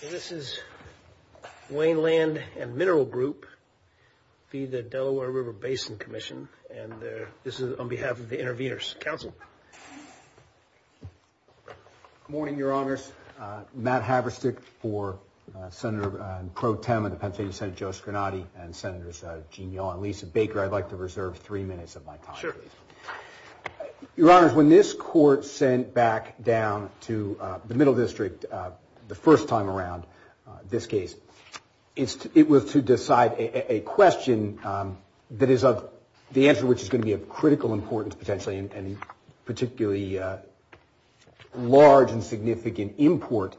This is Wayne Land and Mineral Group v. the Delaware River Basin Commission, and this is on behalf of the Intervenors Council. Good morning, Your Honors. Matt Havristic for Senator Pro Tem of the Pennsylvania Senate, Joe Scarnati, and Senators Gene Yaw and Lisa Baker. I'd like to reserve three minutes of my time, please. Your Honors, when this Court sent back down to the Middle District the first time around this case, it was to decide a question that is of the answer which is going to be of critical importance, potentially, and particularly large and significant import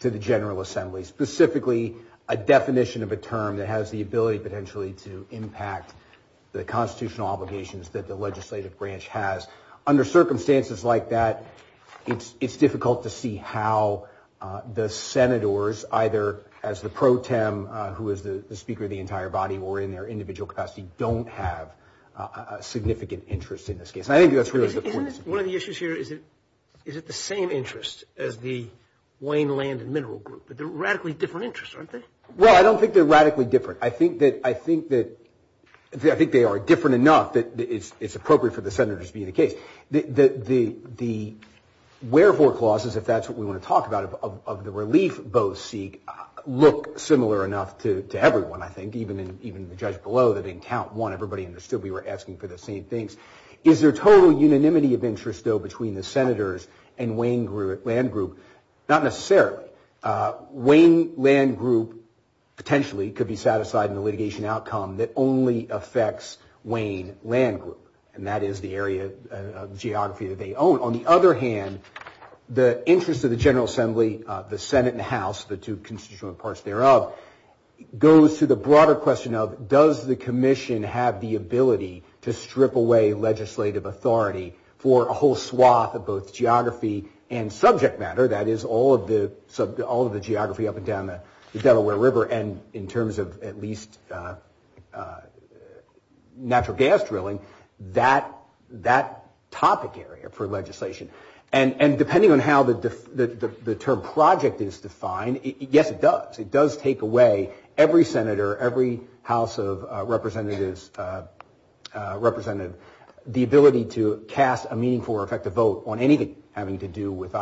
to the General Assembly, specifically a definition of a term that has the ability, potentially, to impact the constitutional obligations that the legislative branch has. Under circumstances like that, it's difficult to see how the Senators, either as the Pro Tem who is the Speaker of the entire body or in their individual capacity, don't have a significant interest in this case. One of the issues here, is it the same interest as the Wayne Land and Mineral Group? They're radically different interests, aren't they? Well, I don't think they're radically different. I think that they are different enough that it's appropriate for the Senators to be in the case. The wherefore clauses, if that's what we want to talk about, of the relief both seek, look similar enough to everyone, I think, even the judge below that didn't count one. Everybody understood we were asking for the same things. Is there total unanimity of interest, though, between the Senators and Wayne Land Group? Not necessarily. Wayne Land Group, potentially, could be set aside in the litigation outcome that only affects Wayne Land Group, and that is the area of geography that they own. On the other hand, the interest of the General Assembly, the Senate and the House, the two constitutional parts thereof, goes to the broader question of, does the commission have the ability to strip away legislative authority for a whole swath of both geography and subject matter, that is, all of the geography up and down the Delaware River, and in terms of at least natural gas drilling, that topic area for legislation. And depending on how the term project is defined, yes, it does. It does take away every Senator, every House of Representatives representative, the ability to cast a meaningful or effective vote on anything having to do with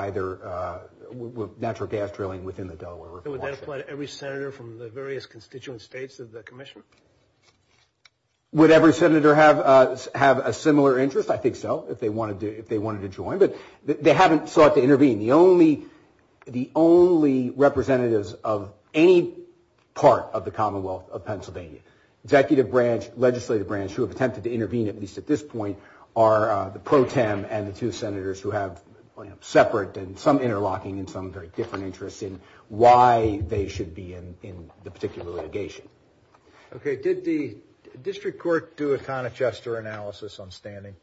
natural gas drilling within the Delaware River. Would that apply to every Senator from the various constituent states of the commission? Would every Senator have a similar interest? I think so, if they wanted to join. But they haven't sought to intervene. The only representatives of any part of the Commonwealth of Pennsylvania, executive branch, legislative branch, who have attempted to intervene at least at this point are the pro tem and the two Senators who have separate and some interlocking and some very different interests in why they should be in the particular litigation. Okay. Did the district court do a Conochester analysis on standing?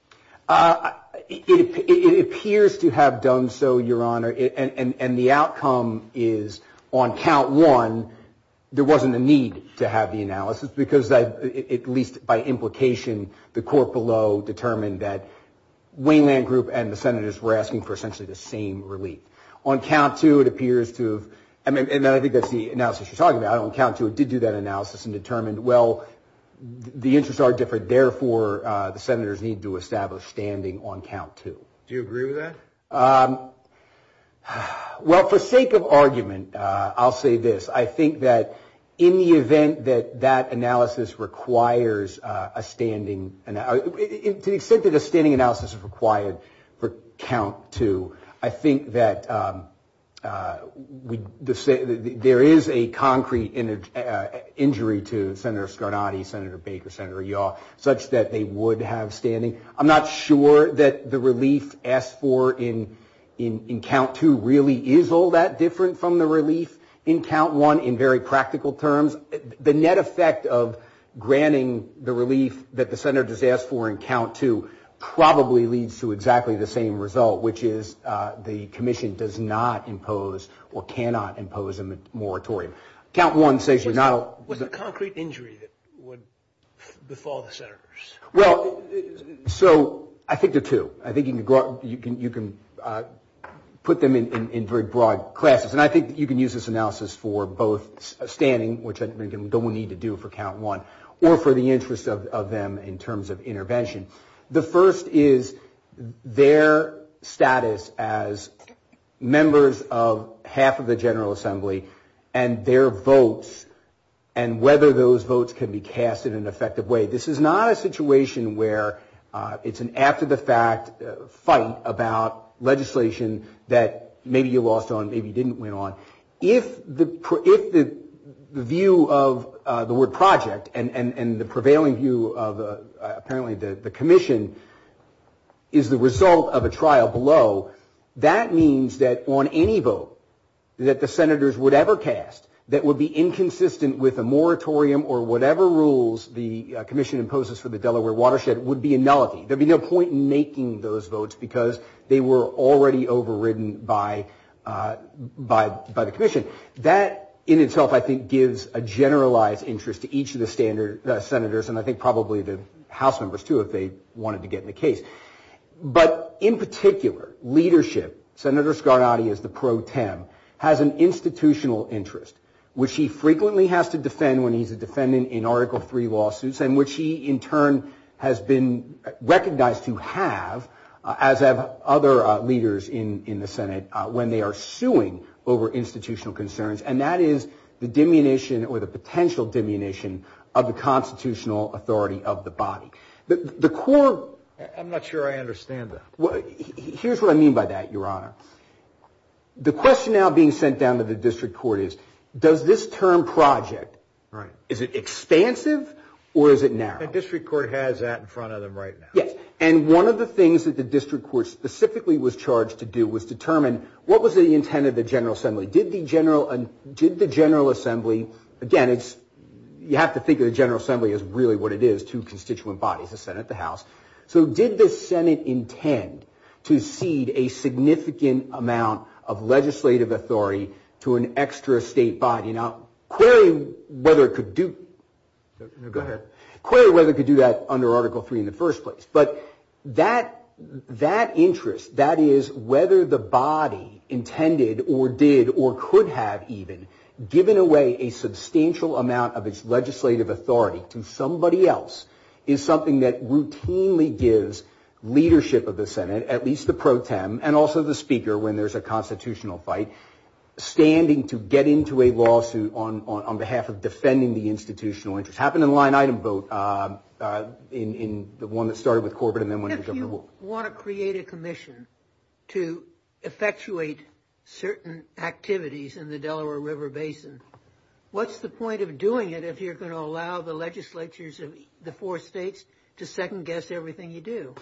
It appears to have done so, Your Honor, and the outcome is on count one, there wasn't a need to have the analysis because, at least by implication, the court below determined that Waineland Group and the Senators were asking for essentially the same relief. On count two, it appears to have, and I think that's the analysis you're talking about, on count two it did do that analysis and determined, well, the interests are different, therefore the Senators need to establish standing on count two. Do you agree with that? Well, for sake of argument, I'll say this. I think that in the event that that analysis requires a standing, to the extent that a standing analysis is required for count two, I think that there is a concrete injury to Senator Scarnati, Senator Baker, Senator Yaw, such that they would have standing. I'm not sure that the relief asked for in count two really is all that different from the relief in count one in very practical terms. The net effect of granting the relief that the Senators asked for in count two probably leads to exactly the same result, which is the Commission does not impose or cannot impose a moratorium. Count one says we're not. Was it a concrete injury that would befall the Senators? Well, so I think there are two. I think you can put them in very broad classes, and I think you can use this analysis for both standing, which I don't think we need to do for count one, or for the interests of them in terms of intervention. The first is their status as members of half of the General Assembly and their votes and whether those votes can be cast in an effective way. This is not a situation where it's an after-the-fact fight about legislation that maybe you lost on, maybe you didn't win on. If the view of the word project and the prevailing view of apparently the Commission is the result of a trial below, that means that on any vote that the Senators would ever cast that would be inconsistent with a moratorium or whatever rules the Commission imposes for the Delaware watershed would be a nullity. There would be no point in making those votes because they were already overridden by the Commission. That in itself, I think, gives a generalized interest to each of the Senators and I think probably the House members, too, if they wanted to get in the case. But in particular, leadership, Senator Scarnati is the pro tem, has an institutional interest, which he frequently has to defend when he's a defendant in Article III lawsuits in which he, in turn, has been recognized to have, as have other leaders in the Senate, when they are suing over institutional concerns. And that is the diminution or the potential diminution of the constitutional authority of the body. The court. I'm not sure I understand that. Here's what I mean by that, Your Honor. The question now being sent down to the district court is, does this term project, is it expansive or is it narrow? The district court has that in front of them right now. Yes. And one of the things that the district court specifically was charged to do was determine what was the intent of the General Assembly. Did the General Assembly, again, you have to think of the General Assembly as really what it is, two constituent bodies, the Senate and the House. So did the Senate intend to cede a significant amount of legislative authority to an extra state body? Now, query whether it could do that under Article III in the first place. But that interest, that is, whether the body intended or did or could have even given away a substantial amount of its legislative authority to somebody else is something that routinely gives leadership of the Senate, at least the pro tem and also the speaker when there's a constitutional fight, standing to get into a lawsuit on behalf of defending the institutional interest. It happened in a line item vote in the one that started with Corbett and then went to Governor Wolk. If you want to create a commission to effectuate certain activities in the Delaware River Basin, what's the point of doing it if you're going to allow the legislatures of the four states to second-guess everything you do?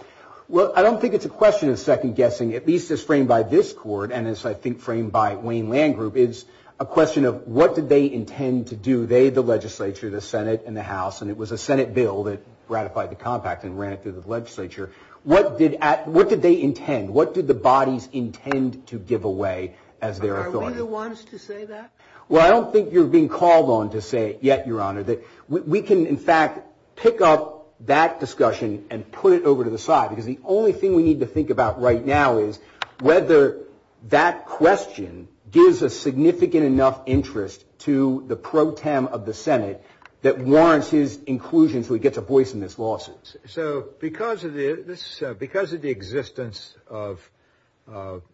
Well, I don't think it's a question of second-guessing. At least as framed by this court and as I think framed by Wayne Land Group, it's a question of what did they intend to do, they, the legislature, the Senate and the House. And it was a Senate bill that ratified the compact and ran it through the legislature. What did they intend? What did the bodies intend to give away as their authority? Are we the ones to say that? Well, I don't think you're being called on to say it yet, Your Honor. We can, in fact, pick up that discussion and put it over to the side because the only thing we need to think about right now is whether that question gives a significant enough interest to the pro tem of the Senate that warrants his inclusion so he gets a voice in this lawsuit. So because of the existence of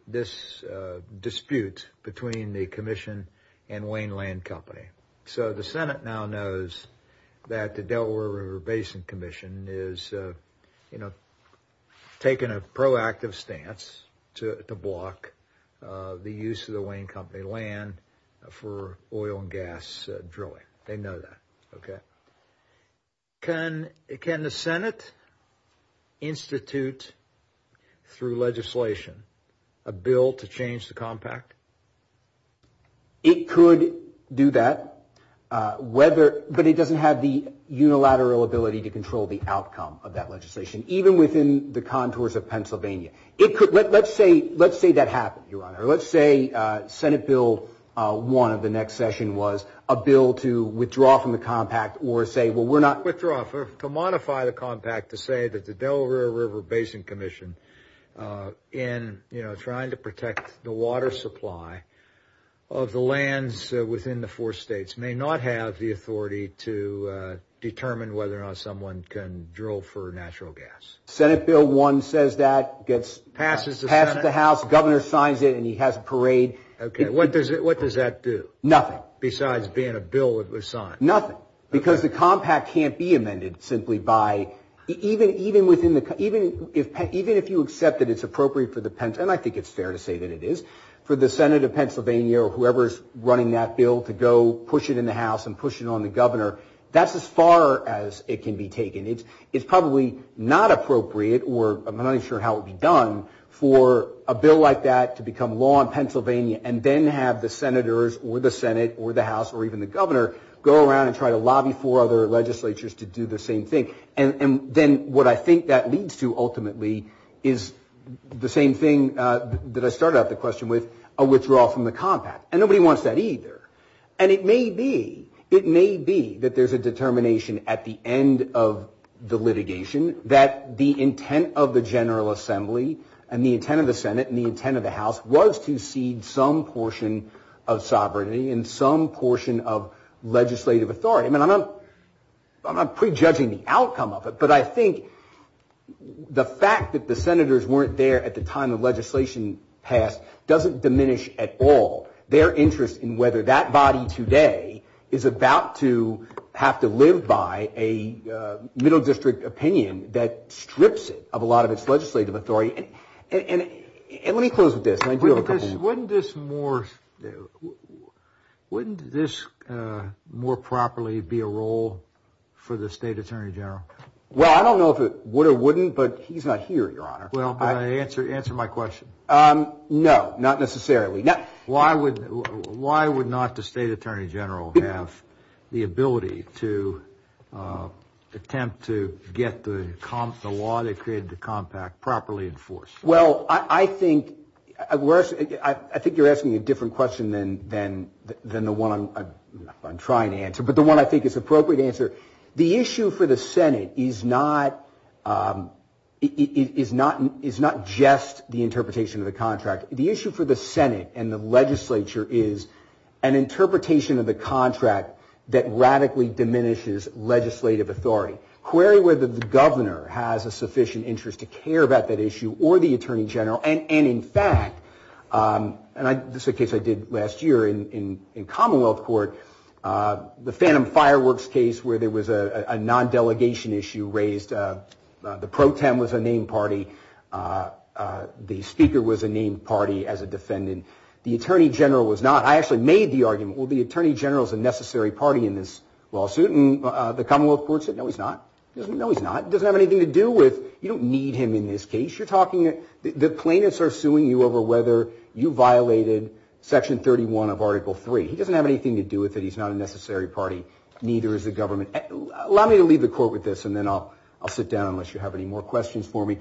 this dispute between the commission and Wayne Land Company, so the Senate now knows that the Delaware River Basin Commission is, you know, taking a proactive stance to block the use of the Wayne Company land for oil and gas drilling. They know that, okay? Can the Senate institute through legislation a bill to change the compact? It could do that, but it doesn't have the unilateral ability to control the outcome of that legislation, even within the contours of Pennsylvania. Let's say that happened, Your Honor. Let's say Senate Bill 1 of the next session was a bill to withdraw from the compact or say, well, we're not. Withdraw, to modify the compact to say that the Delaware River Basin Commission, in trying to protect the water supply of the lands within the four states, may not have the authority to determine whether or not someone can drill for natural gas. Senate Bill 1 says that. Passes the Senate. Passes the House. Governor signs it, and he has a parade. Okay. What does that do? Nothing. Besides being a bill that was signed. Nothing. Because the compact can't be amended simply by, even if you accept that it's appropriate for the, and I think it's fair to say that it is, for the Senate of Pennsylvania or whoever's running that bill to go push it in the House and push it on the governor, that's as far as it can be taken. It's probably not appropriate, or I'm not even sure how it would be done, for a bill like that to become law in Pennsylvania and then have the senators or the Senate or the House or even the governor go around and try to lobby for other legislatures to do the same thing. And then what I think that leads to, ultimately, is the same thing that I started out the question with, a withdrawal from the compact. And nobody wants that either. And it may be, it may be that there's a determination at the end of the litigation that the intent of the General Assembly and the intent of the Senate and the intent of the House was to cede some portion of sovereignty and some portion of legislative authority. I mean, I'm not prejudging the outcome of it, but I think the fact that the senators weren't there at the time the legislation passed doesn't diminish at all their interest in whether that body today is about to have to live by a middle district opinion that strips it of a lot of its legislative authority. And let me close with this. Wouldn't this more properly be a role for the State Attorney General? Well, I don't know if it would or wouldn't, but he's not here, Your Honor. Well, answer my question. No, not necessarily. Why would not the State Attorney General have the ability to attempt to get the law that created the compact properly enforced? Well, I think you're asking a different question than the one I'm trying to answer, but the one I think is the appropriate answer. The issue for the Senate is not just the interpretation of the contract. The issue for the Senate and the legislature is an interpretation of the contract that radically diminishes legislative authority. Query whether the governor has a sufficient interest to care about that issue or the Attorney General, and in fact, and this is a case I did last year in Commonwealth Court, the Phantom Fireworks case where there was a non-delegation issue raised. The pro tem was a named party. The speaker was a named party as a defendant. The Attorney General was not. I actually made the argument, well, the Attorney General is a necessary party in this lawsuit. The Commonwealth Court said, no, he's not. No, he's not. It doesn't have anything to do with, you don't need him in this case. You're talking, the plaintiffs are suing you over whether you violated Section 31 of Article 3. He doesn't have anything to do with it. He's not a necessary party. Neither is the government. Allow me to leave the court with this, and then I'll sit down unless you have any more questions for me.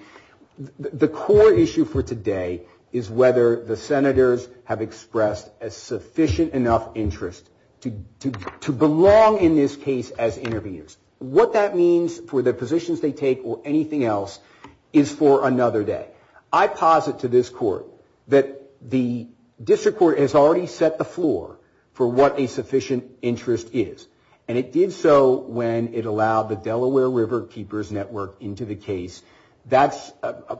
The core issue for today is whether the senators have expressed a sufficient enough interest to belong in this case as interveners. What that means for the positions they take or anything else is for another day. I posit to this court that the district court has already set the floor for what a sufficient interest is, and it did so when it allowed the Delaware River Keepers Network into the case. That's a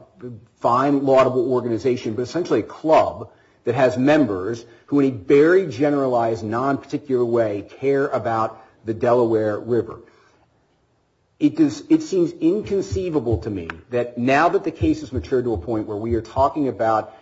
fine, laudable organization, but essentially a club that has members who in a very generalized, non-particular way care about the Delaware River. It seems inconceivable to me that now that the case has matured to a point where we are talking about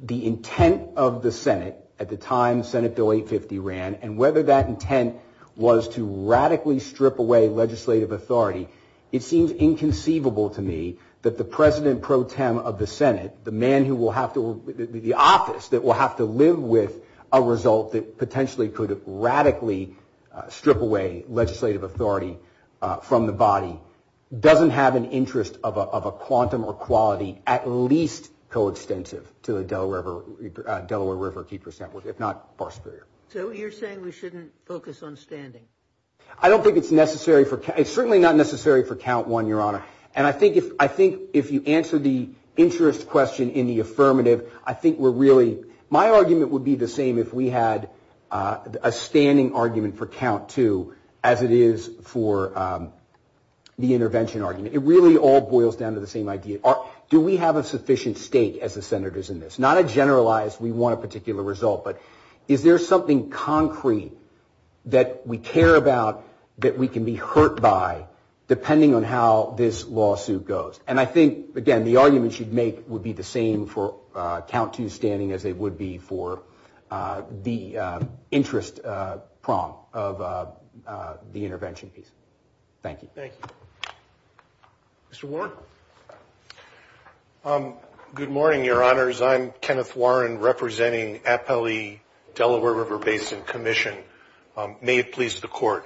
the intent of the Senate, at the time Senate Bill 850 ran, and whether that intent was to radically strip away legislative authority, it seems inconceivable to me that the president pro tem of the Senate, the office that will have to live with a result that potentially could radically strip away legislative authority from the body, doesn't have an interest of a quantum or quality at least coextensive to the Delaware River Keepers Network, if not far superior. So you're saying we shouldn't focus on standing? I don't think it's necessary. It's certainly not necessary for count one, Your Honor. And I think if you answer the interest question in the affirmative, I think we're really, my argument would be the same if we had a standing argument for count two as it is for the intervention argument. It really all boils down to the same idea. Do we have a sufficient stake as the senators in this? Not a generalized, we want a particular result, but is there something concrete that we care about that we can be hurt by depending on how this lawsuit goes? And I think, again, the arguments you'd make would be the same for count two standing as they would be for the interest prong of the intervention piece. Thank you. Mr. Warren. Good morning, Your Honors. I'm Kenneth Warren representing Appellee Delaware River Basin Commission. May it please the Court.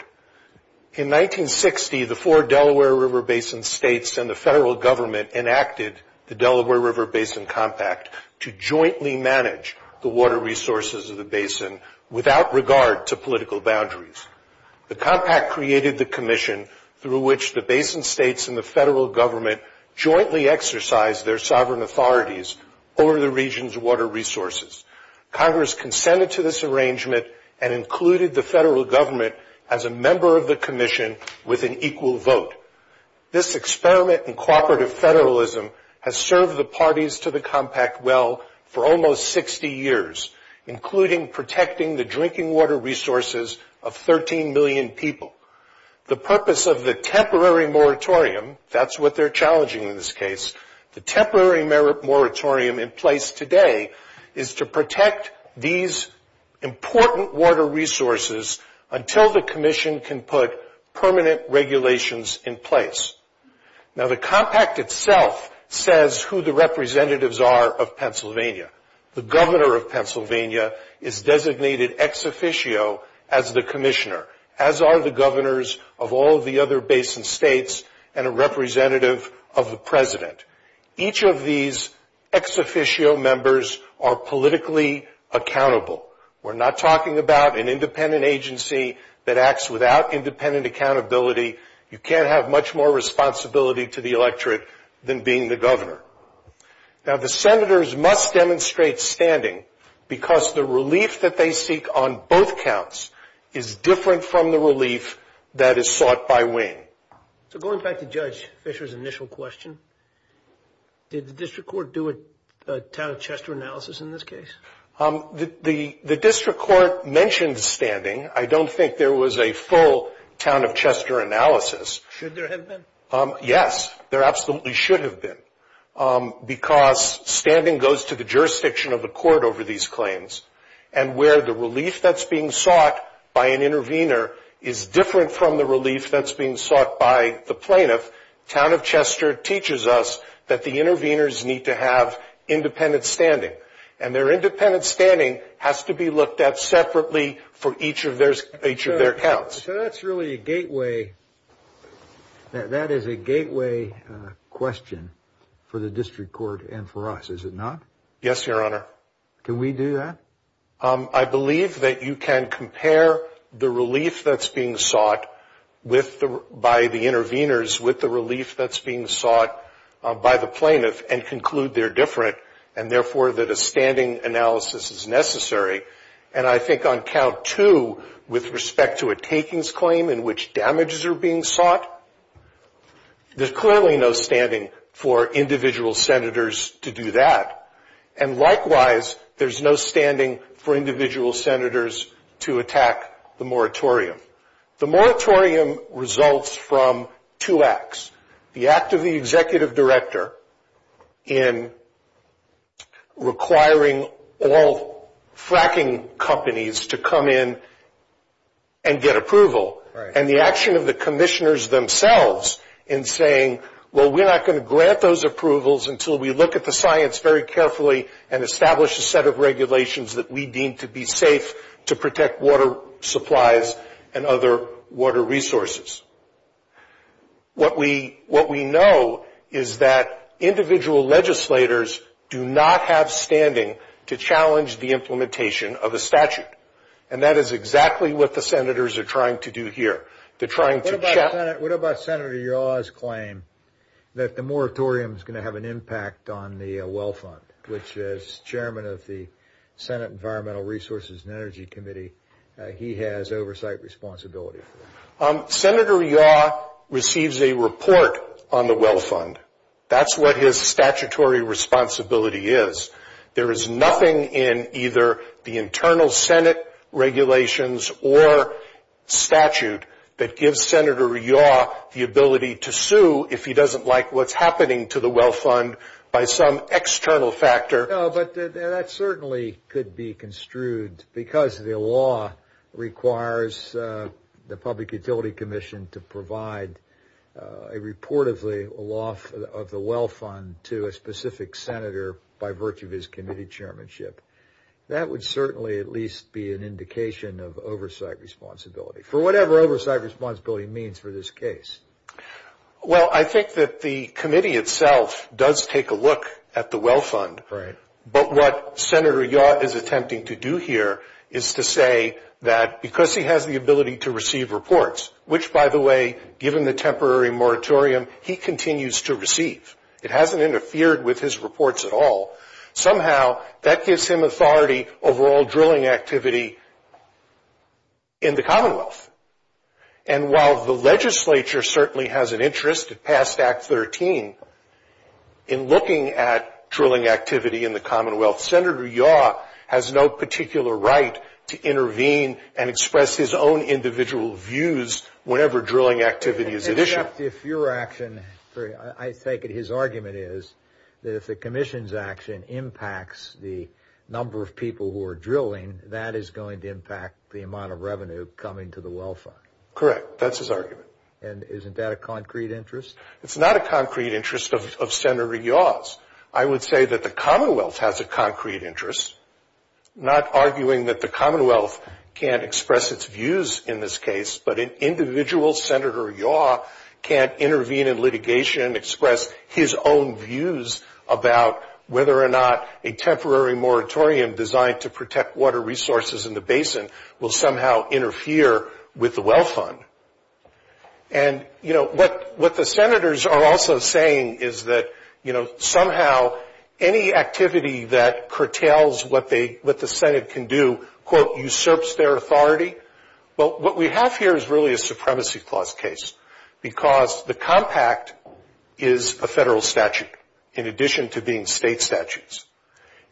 In 1960, the four Delaware River Basin states and the federal government enacted the Delaware River Basin Compact to jointly manage the water resources of the basin without regard to political boundaries. The compact created the commission through which the basin states jointly exercised their sovereign authorities over the region's water resources. Congress consented to this arrangement and included the federal government as a member of the commission with an equal vote. This experiment in cooperative federalism has served the parties to the compact well for almost 60 years, including protecting the drinking water resources of 13 million people. The purpose of the temporary moratorium, that's what they're challenging in this case, the temporary moratorium in place today is to protect these important water resources until the commission can put permanent regulations in place. Now, the compact itself says who the representatives are of Pennsylvania. The governor of Pennsylvania is designated ex officio as the commissioner, as are the governors of all of the other basin states and a representative of the president. Each of these ex officio members are politically accountable. We're not talking about an independent agency that acts without independent accountability. You can't have much more responsibility to the electorate than being the governor. Now, the senators must demonstrate standing because the relief that they seek on both counts is different from the relief that is sought by wing. So going back to Judge Fisher's initial question, did the district court do a town of Chester analysis in this case? The district court mentioned standing. I don't think there was a full town of Chester analysis. Should there have been? Yes, there absolutely should have been because standing goes to the jurisdiction of the court over these claims, and where the relief that's being sought by an intervener is different from the relief that's being sought by the plaintiff. Town of Chester teaches us that the interveners need to have independent standing, and their independent standing has to be looked at separately for each of their counts. So that's really a gateway. That is a gateway question for the district court and for us, is it not? Yes, Your Honor. Can we do that? I believe that you can compare the relief that's being sought by the interveners with the relief that's being sought by the plaintiff and conclude they're different and, therefore, that a standing analysis is necessary. And I think on count two, with respect to a takings claim in which damages are being sought, there's clearly no standing for individual senators to do that. And, likewise, there's no standing for individual senators to attack the moratorium. The moratorium results from two acts, the act of the executive director in requiring all fracking companies to come in and get approval, and the action of the commissioners themselves in saying, well, we're not going to grant those approvals until we look at the science very carefully and establish a set of regulations that we deem to be safe to protect water supplies and other water resources. What we know is that individual legislators do not have standing to challenge the implementation of a statute, and that is exactly what the senators are trying to do here. What about Senator Yaw's claim that the moratorium is going to have an impact on the well fund, which, as chairman of the Senate Environmental Resources and Energy Committee, he has oversight responsibility for? Senator Yaw receives a report on the well fund. That's what his statutory responsibility is. There is nothing in either the internal Senate regulations or statute that gives Senator Yaw the ability to sue if he doesn't like what's happening to the well fund by some external factor. But that certainly could be construed because the law requires the Public Utility Commission to provide a report of the well fund to a specific senator by virtue of his committee chairmanship. That would certainly at least be an indication of oversight responsibility for whatever oversight responsibility means for this case. Well, I think that the committee itself does take a look at the well fund. But what Senator Yaw is attempting to do here is to say that because he has the ability to receive reports, which, by the way, given the temporary moratorium, he continues to receive. It hasn't interfered with his reports at all. Somehow that gives him authority over all drilling activity in the Commonwealth. And while the legislature certainly has an interest past Act 13 in looking at drilling activity in the Commonwealth, Senator Yaw has no particular right to intervene and express his own individual views whenever drilling activity is initiated. In fact, if your action, I take it his argument is that if the commission's action impacts the number of people who are drilling, that is going to impact the amount of revenue coming to the well fund. Correct. That's his argument. And isn't that a concrete interest? It's not a concrete interest of Senator Yaw's. I would say that the Commonwealth has a concrete interest, not arguing that the Commonwealth can't express its views in this case, but an individual, Senator Yaw, can't intervene in litigation, express his own views about whether or not a temporary moratorium designed to protect water resources in the basin will somehow interfere with the well fund. And, you know, what the senators are also saying is that, you know, somehow any activity that curtails what the Senate can do, quote, usurps their authority. But what we have here is really a supremacy clause case because the compact is a federal statute in addition to being state statutes.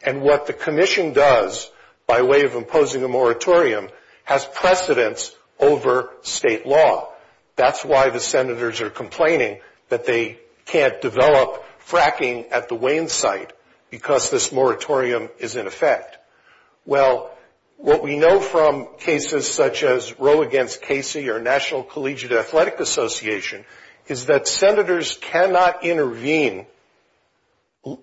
And what the commission does by way of imposing a moratorium has precedence over state law. That's why the senators are complaining that they can't develop fracking at the Wayne site because this moratorium is in effect. Well, what we know from cases such as Roe against Casey or National Collegiate Athletic Association is that senators cannot intervene,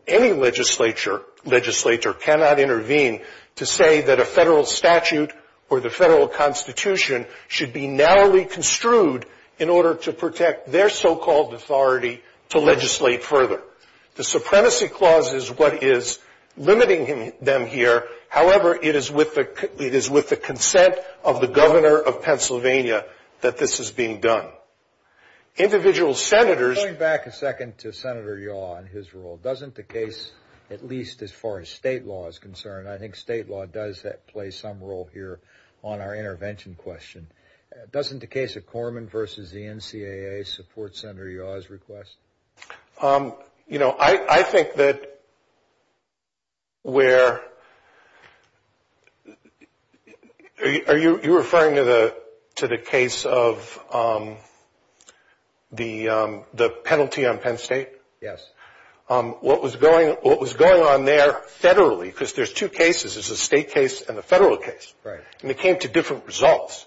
any legislature cannot intervene to say that a federal statute or the federal constitution should be narrowly construed in order to protect their so-called authority to legislate further. The supremacy clause is what is limiting them here. However, it is with the consent of the governor of Pennsylvania that this is being done. Individual senators. Going back a second to Senator Yaw and his role, doesn't the case, at least as far as state law is concerned, I think state law does play some role here on our intervention question. Doesn't the case of Corman versus the NCAA support Senator Yaw's request? You know, I think that where, are you referring to the case of the penalty on Penn State? Yes. What was going on there federally, because there's two cases, there's a state case and a federal case. Right. And they came to different results.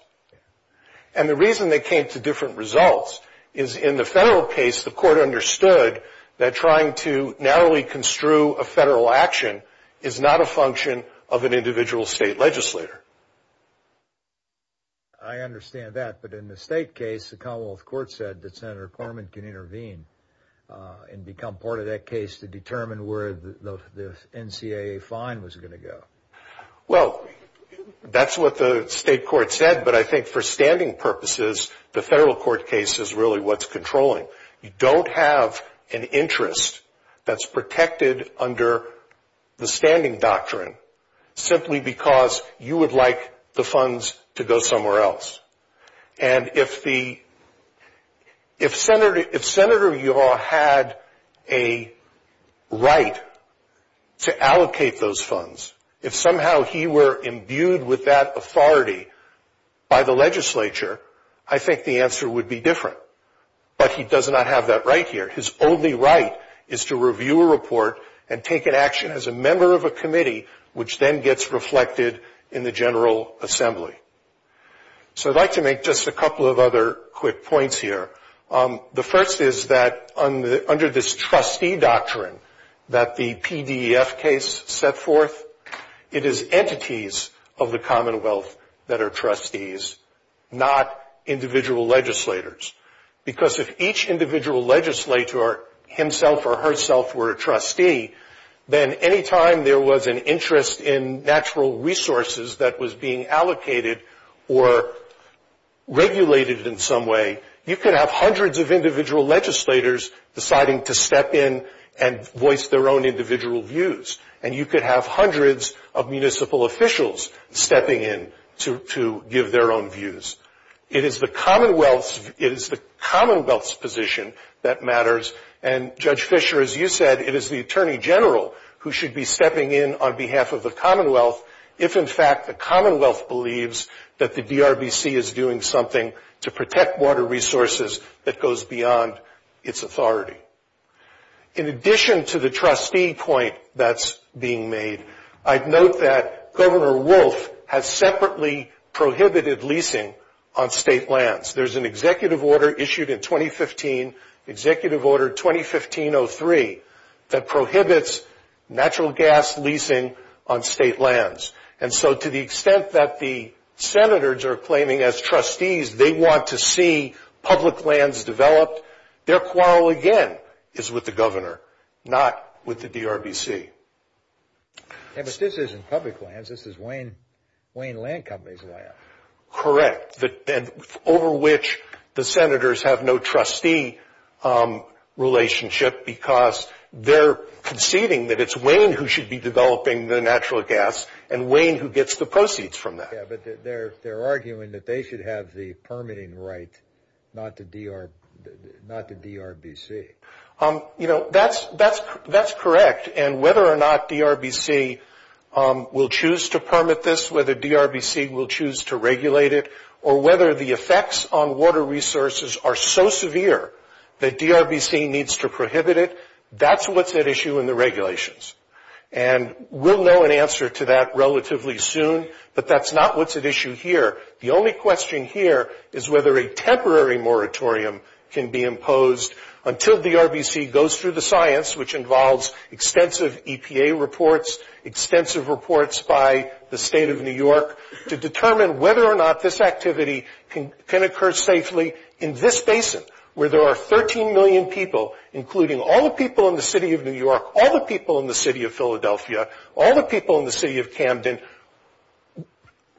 And the reason they came to different results is in the federal case the court understood that trying to narrowly construe a federal action is not a function of an individual state legislator. I understand that, but in the state case the Commonwealth Court said that Senator Corman can intervene and become part of that case to determine where the NCAA fine was going to go. Well, that's what the state court said, but I think for standing purposes the federal court case is really what's controlling. You don't have an interest that's protected under the standing doctrine simply because you would like the funds to go somewhere else. And if Senator Yaw had a right to allocate those funds, if somehow he were imbued with that authority by the legislature, I think the answer would be different. But he does not have that right here. His only right is to review a report and take an action as a member of a committee, which then gets reflected in the General Assembly. So I'd like to make just a couple of other quick points here. The first is that under this trustee doctrine that the PDF case set forth, it is entities of the Commonwealth that are trustees, not individual legislators. Because if each individual legislator himself or herself were a trustee, then any time there was an interest in natural resources that was being allocated or regulated in some way, you could have hundreds of individual legislators deciding to step in and voice their own individual views. And you could have hundreds of municipal officials stepping in to give their own views. It is the Commonwealth's position that matters. And, Judge Fischer, as you said, it is the Attorney General who should be stepping in on behalf of the Commonwealth if, in fact, the Commonwealth believes that the DRBC is doing something to protect water resources that goes beyond its authority. In addition to the trustee point that's being made, I'd note that Governor Wolf has separately prohibited leasing on state lands. There's an executive order issued in 2015, Executive Order 2015-03, that prohibits natural gas leasing on state lands. And so to the extent that the senators are claiming as trustees they want to see public lands developed, their quarrel again is with the governor, not with the DRBC. But this isn't public lands. This is Wayne Land Company's land. Correct. And over which the senators have no trustee relationship because they're conceding that it's Wayne who should be developing the natural gas and Wayne who gets the proceeds from that. Yeah, but they're arguing that they should have the permitting right, not the DRBC. You know, that's correct. And whether or not DRBC will choose to permit this, whether DRBC will choose to regulate it, or whether the effects on water resources are so severe that DRBC needs to prohibit it, that's what's at issue in the regulations. And we'll know an answer to that relatively soon, but that's not what's at issue here. The only question here is whether a temporary moratorium can be imposed until DRBC goes through the science, which involves extensive EPA reports, extensive reports by the state of New York, to determine whether or not this activity can occur safely in this basin where there are 13 million people, including all the people in the city of New York, all the people in the city of Philadelphia, all the people in the city of Camden,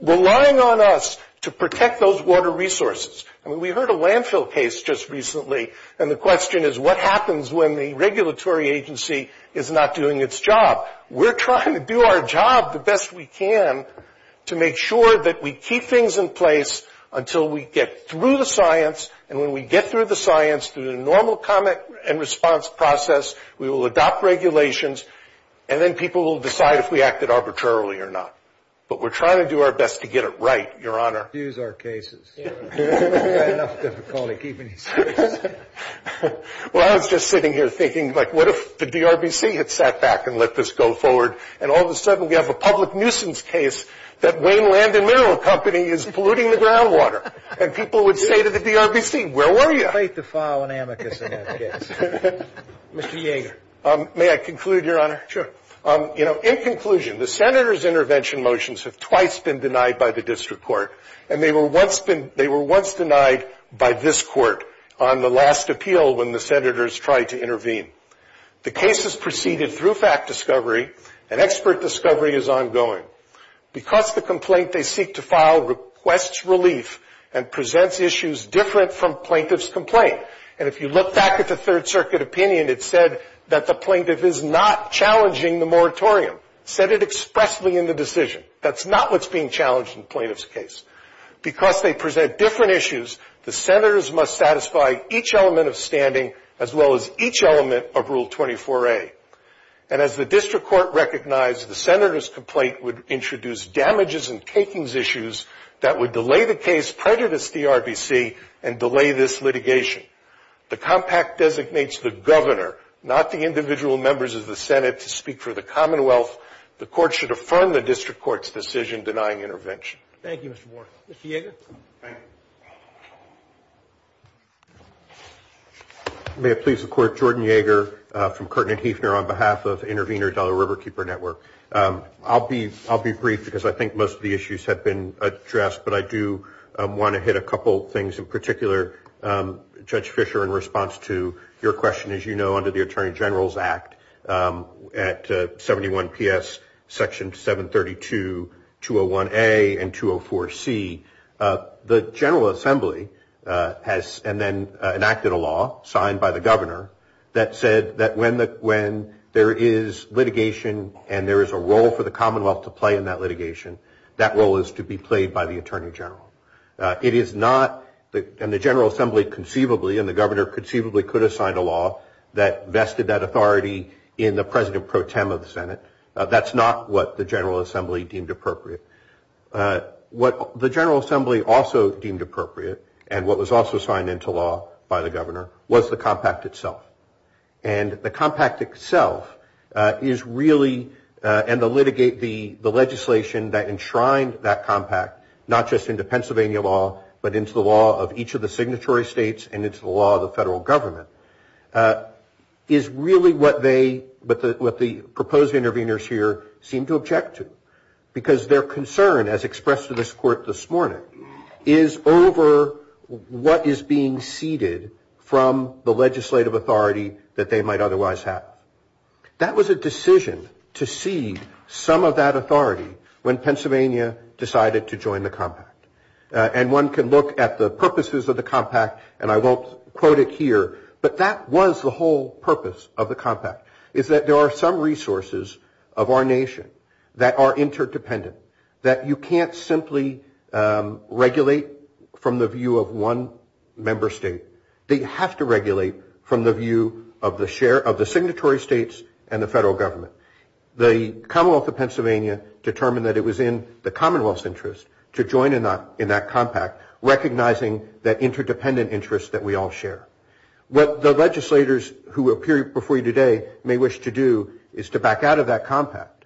relying on us to protect those water resources. I mean, we heard a landfill case just recently, and the question is what happens when the regulatory agency is not doing its job. We're trying to do our job the best we can to make sure that we keep things in place until we get through the science, and when we get through the science, through the normal comment and response process, we will adopt regulations, and then people will decide if we acted arbitrarily or not. But we're trying to do our best to get it right, Your Honor. Use our cases. We've had enough difficulty keeping these cases. Well, I was just sitting here thinking, like, what if the DRBC had sat back and let this go forward, and all of a sudden we have a public nuisance case that Wayne Land and Mineral Company is polluting the groundwater, and people would say to the DRBC, where were you? It's too late to file an amicus on that case. Mr. Yeager. May I conclude, Your Honor? Sure. You know, in conclusion, the Senators' intervention motions have twice been denied by the district court, and they were once denied by this court on the last appeal when the Senators tried to intervene. The case has proceeded through fact discovery, and expert discovery is ongoing. Because the complaint they seek to file requests relief and presents issues different from plaintiff's complaint. And if you look back at the Third Circuit opinion, it said that the plaintiff is not challenging the moratorium. It said it expressly in the decision. That's not what's being challenged in the plaintiff's case. Because they present different issues, the Senators must satisfy each element of standing, as well as each element of Rule 24A. And as the district court recognized, the Senators' complaint would introduce damages and takings issues that would delay the case, prejudice DRBC, and delay this litigation. The compact designates the governor, not the individual members of the Senate, to speak for the Commonwealth. The court should affirm the district court's decision denying intervention. Thank you, Mr. Moore. Mr. Yeager. Thank you. May it please the Court. Jordan Yeager from Kirtland Hefner on behalf of Intervenor Dollar Riverkeeper Network. I'll be brief because I think most of the issues have been addressed, but I do want to hit a couple things in particular. Judge Fischer, in response to your question, as you know, under the Attorney General's Act at 71PS Section 732, 201A and 204C, the General Assembly has enacted a law signed by the governor that said that when there is litigation and there is a role for the Commonwealth to play in that litigation, that role is to be played by the Attorney General. It is not, and the General Assembly conceivably and the governor conceivably could have signed a law that vested that authority in the president pro tem of the Senate. That's not what the General Assembly deemed appropriate. What the General Assembly also deemed appropriate and what was also signed into law by the governor was the compact itself. And the compact itself is really, and the litigation that enshrined that compact, not just into Pennsylvania law but into the law of each of the signatory states and into the law of the federal government, is really what they, what the proposed intervenors here seem to object to because their concern, as expressed to this court this morning, is over what is being ceded from the legislative authority that they might otherwise have. That was a decision to cede some of that authority when Pennsylvania decided to join the compact. And one can look at the purposes of the compact, and I won't quote it here, is that there are some resources of our nation that are interdependent, that you can't simply regulate from the view of one member state. They have to regulate from the view of the signatory states and the federal government. The Commonwealth of Pennsylvania determined that it was in the Commonwealth's interest to join in that compact, recognizing that interdependent interest that we all share. What the legislators who appear before you today may wish to do is to back out of that compact.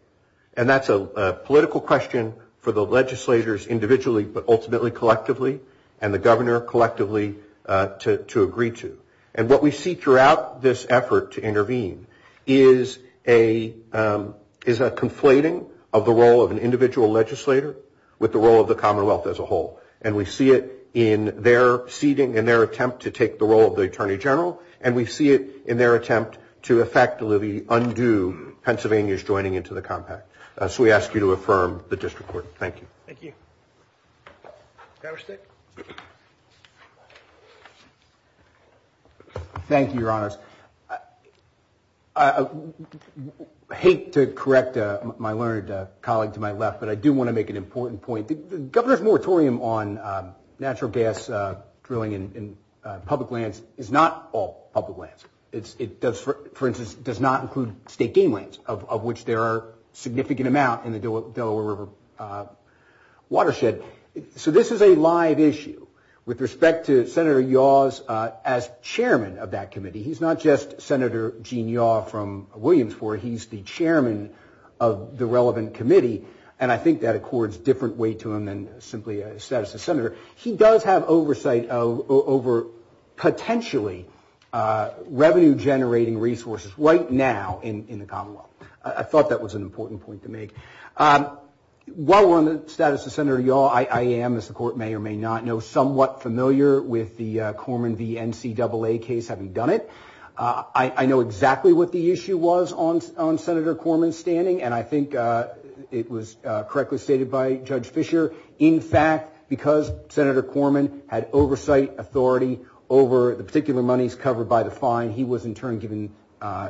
And that's a political question for the legislators individually, but ultimately collectively and the governor collectively to agree to. And what we see throughout this effort to intervene is a conflating of the role of an individual legislator with the role of the Commonwealth as a whole. And we see it in their seating and their attempt to take the role of the Attorney General, and we see it in their attempt to effectively undo Pennsylvania's joining into the compact. So we ask you to affirm the district court. Thank you. Thank you. Governor Stig? Thank you, Your Honors. I hate to correct my learned colleague to my left, but I do want to make an important point. The governor's moratorium on natural gas drilling in public lands is not all public lands. It does, for instance, does not include state game lands, of which there are a significant amount in the Delaware River watershed. So this is a live issue. With respect to Senator Yaw's as chairman of that committee, he's not just Senator Gene Yaw from Williamsport. He's the chairman of the relevant committee. And I think that accords different weight to him than simply a status of senator. He does have oversight over potentially revenue-generating resources right now in the Commonwealth. I thought that was an important point to make. While we're on the status of Senator Yaw, I am, as the court may or may not know, somewhat familiar with the Corman v. NCAA case, having done it. I know exactly what the issue was on Senator Corman's standing, and I think it was correctly stated by Judge Fischer. In fact, because Senator Corman had oversight authority over the particular monies covered by the fine, he was in turn given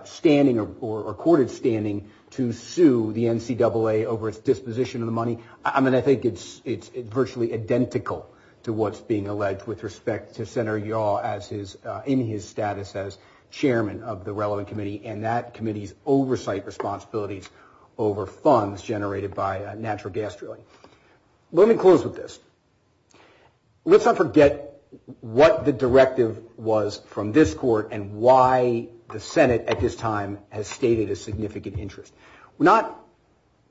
standing or courted standing to sue the NCAA over its disposition of the money. I mean, I think it's virtually identical to what's being alleged with respect to Senator Yaw in his status as chairman of the relevant committee, and that committee's oversight responsibilities over funds generated by natural gas drilling. Let me close with this. Let's not forget what the directive was from this court and why the Senate at this time has stated a significant interest. We're not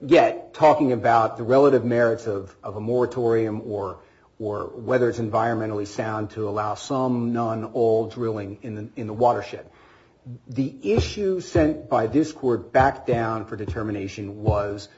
yet talking about the relative merits of a moratorium or whether it's environmentally sound to allow some, none, all drilling in the watershed. The issue sent by this court back down for determination was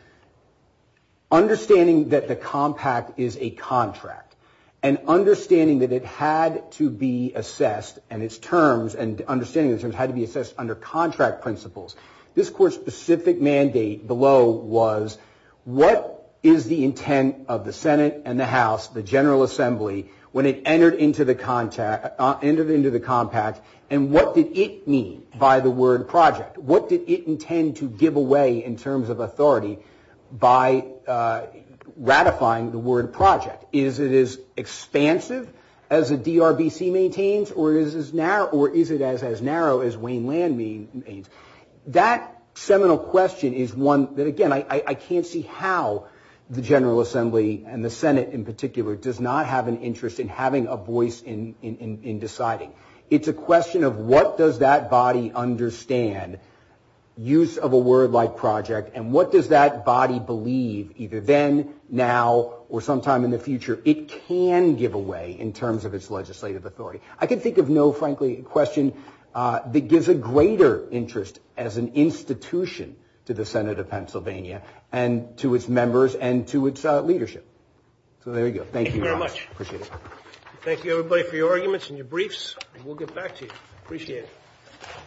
understanding that the compact is a contract and understanding that it had to be assessed and its terms, and understanding the terms had to be assessed under contract principles. This court's specific mandate below was what is the intent of the Senate and the House, the General Assembly, when it entered into the compact, and what did it mean by the word project? What did it intend to give away in terms of authority by ratifying the word project? Is it as expansive as the DRBC maintains or is it as narrow as Wayne Land maintains? That seminal question is one that, again, I can't see how the General Assembly and the Senate in particular does not have an interest in having a voice in deciding. It's a question of what does that body understand, use of a word like project, and what does that body believe, either then, now, or sometime in the future, it can give away in terms of its legislative authority. I can think of no, frankly, question that gives a greater interest as an institution to the Senate of Pennsylvania and to its members and to its leadership. So there you go. Thank you very much. Appreciate it. Thank you, everybody, for your arguments and your briefs. We'll get back to you. Appreciate it.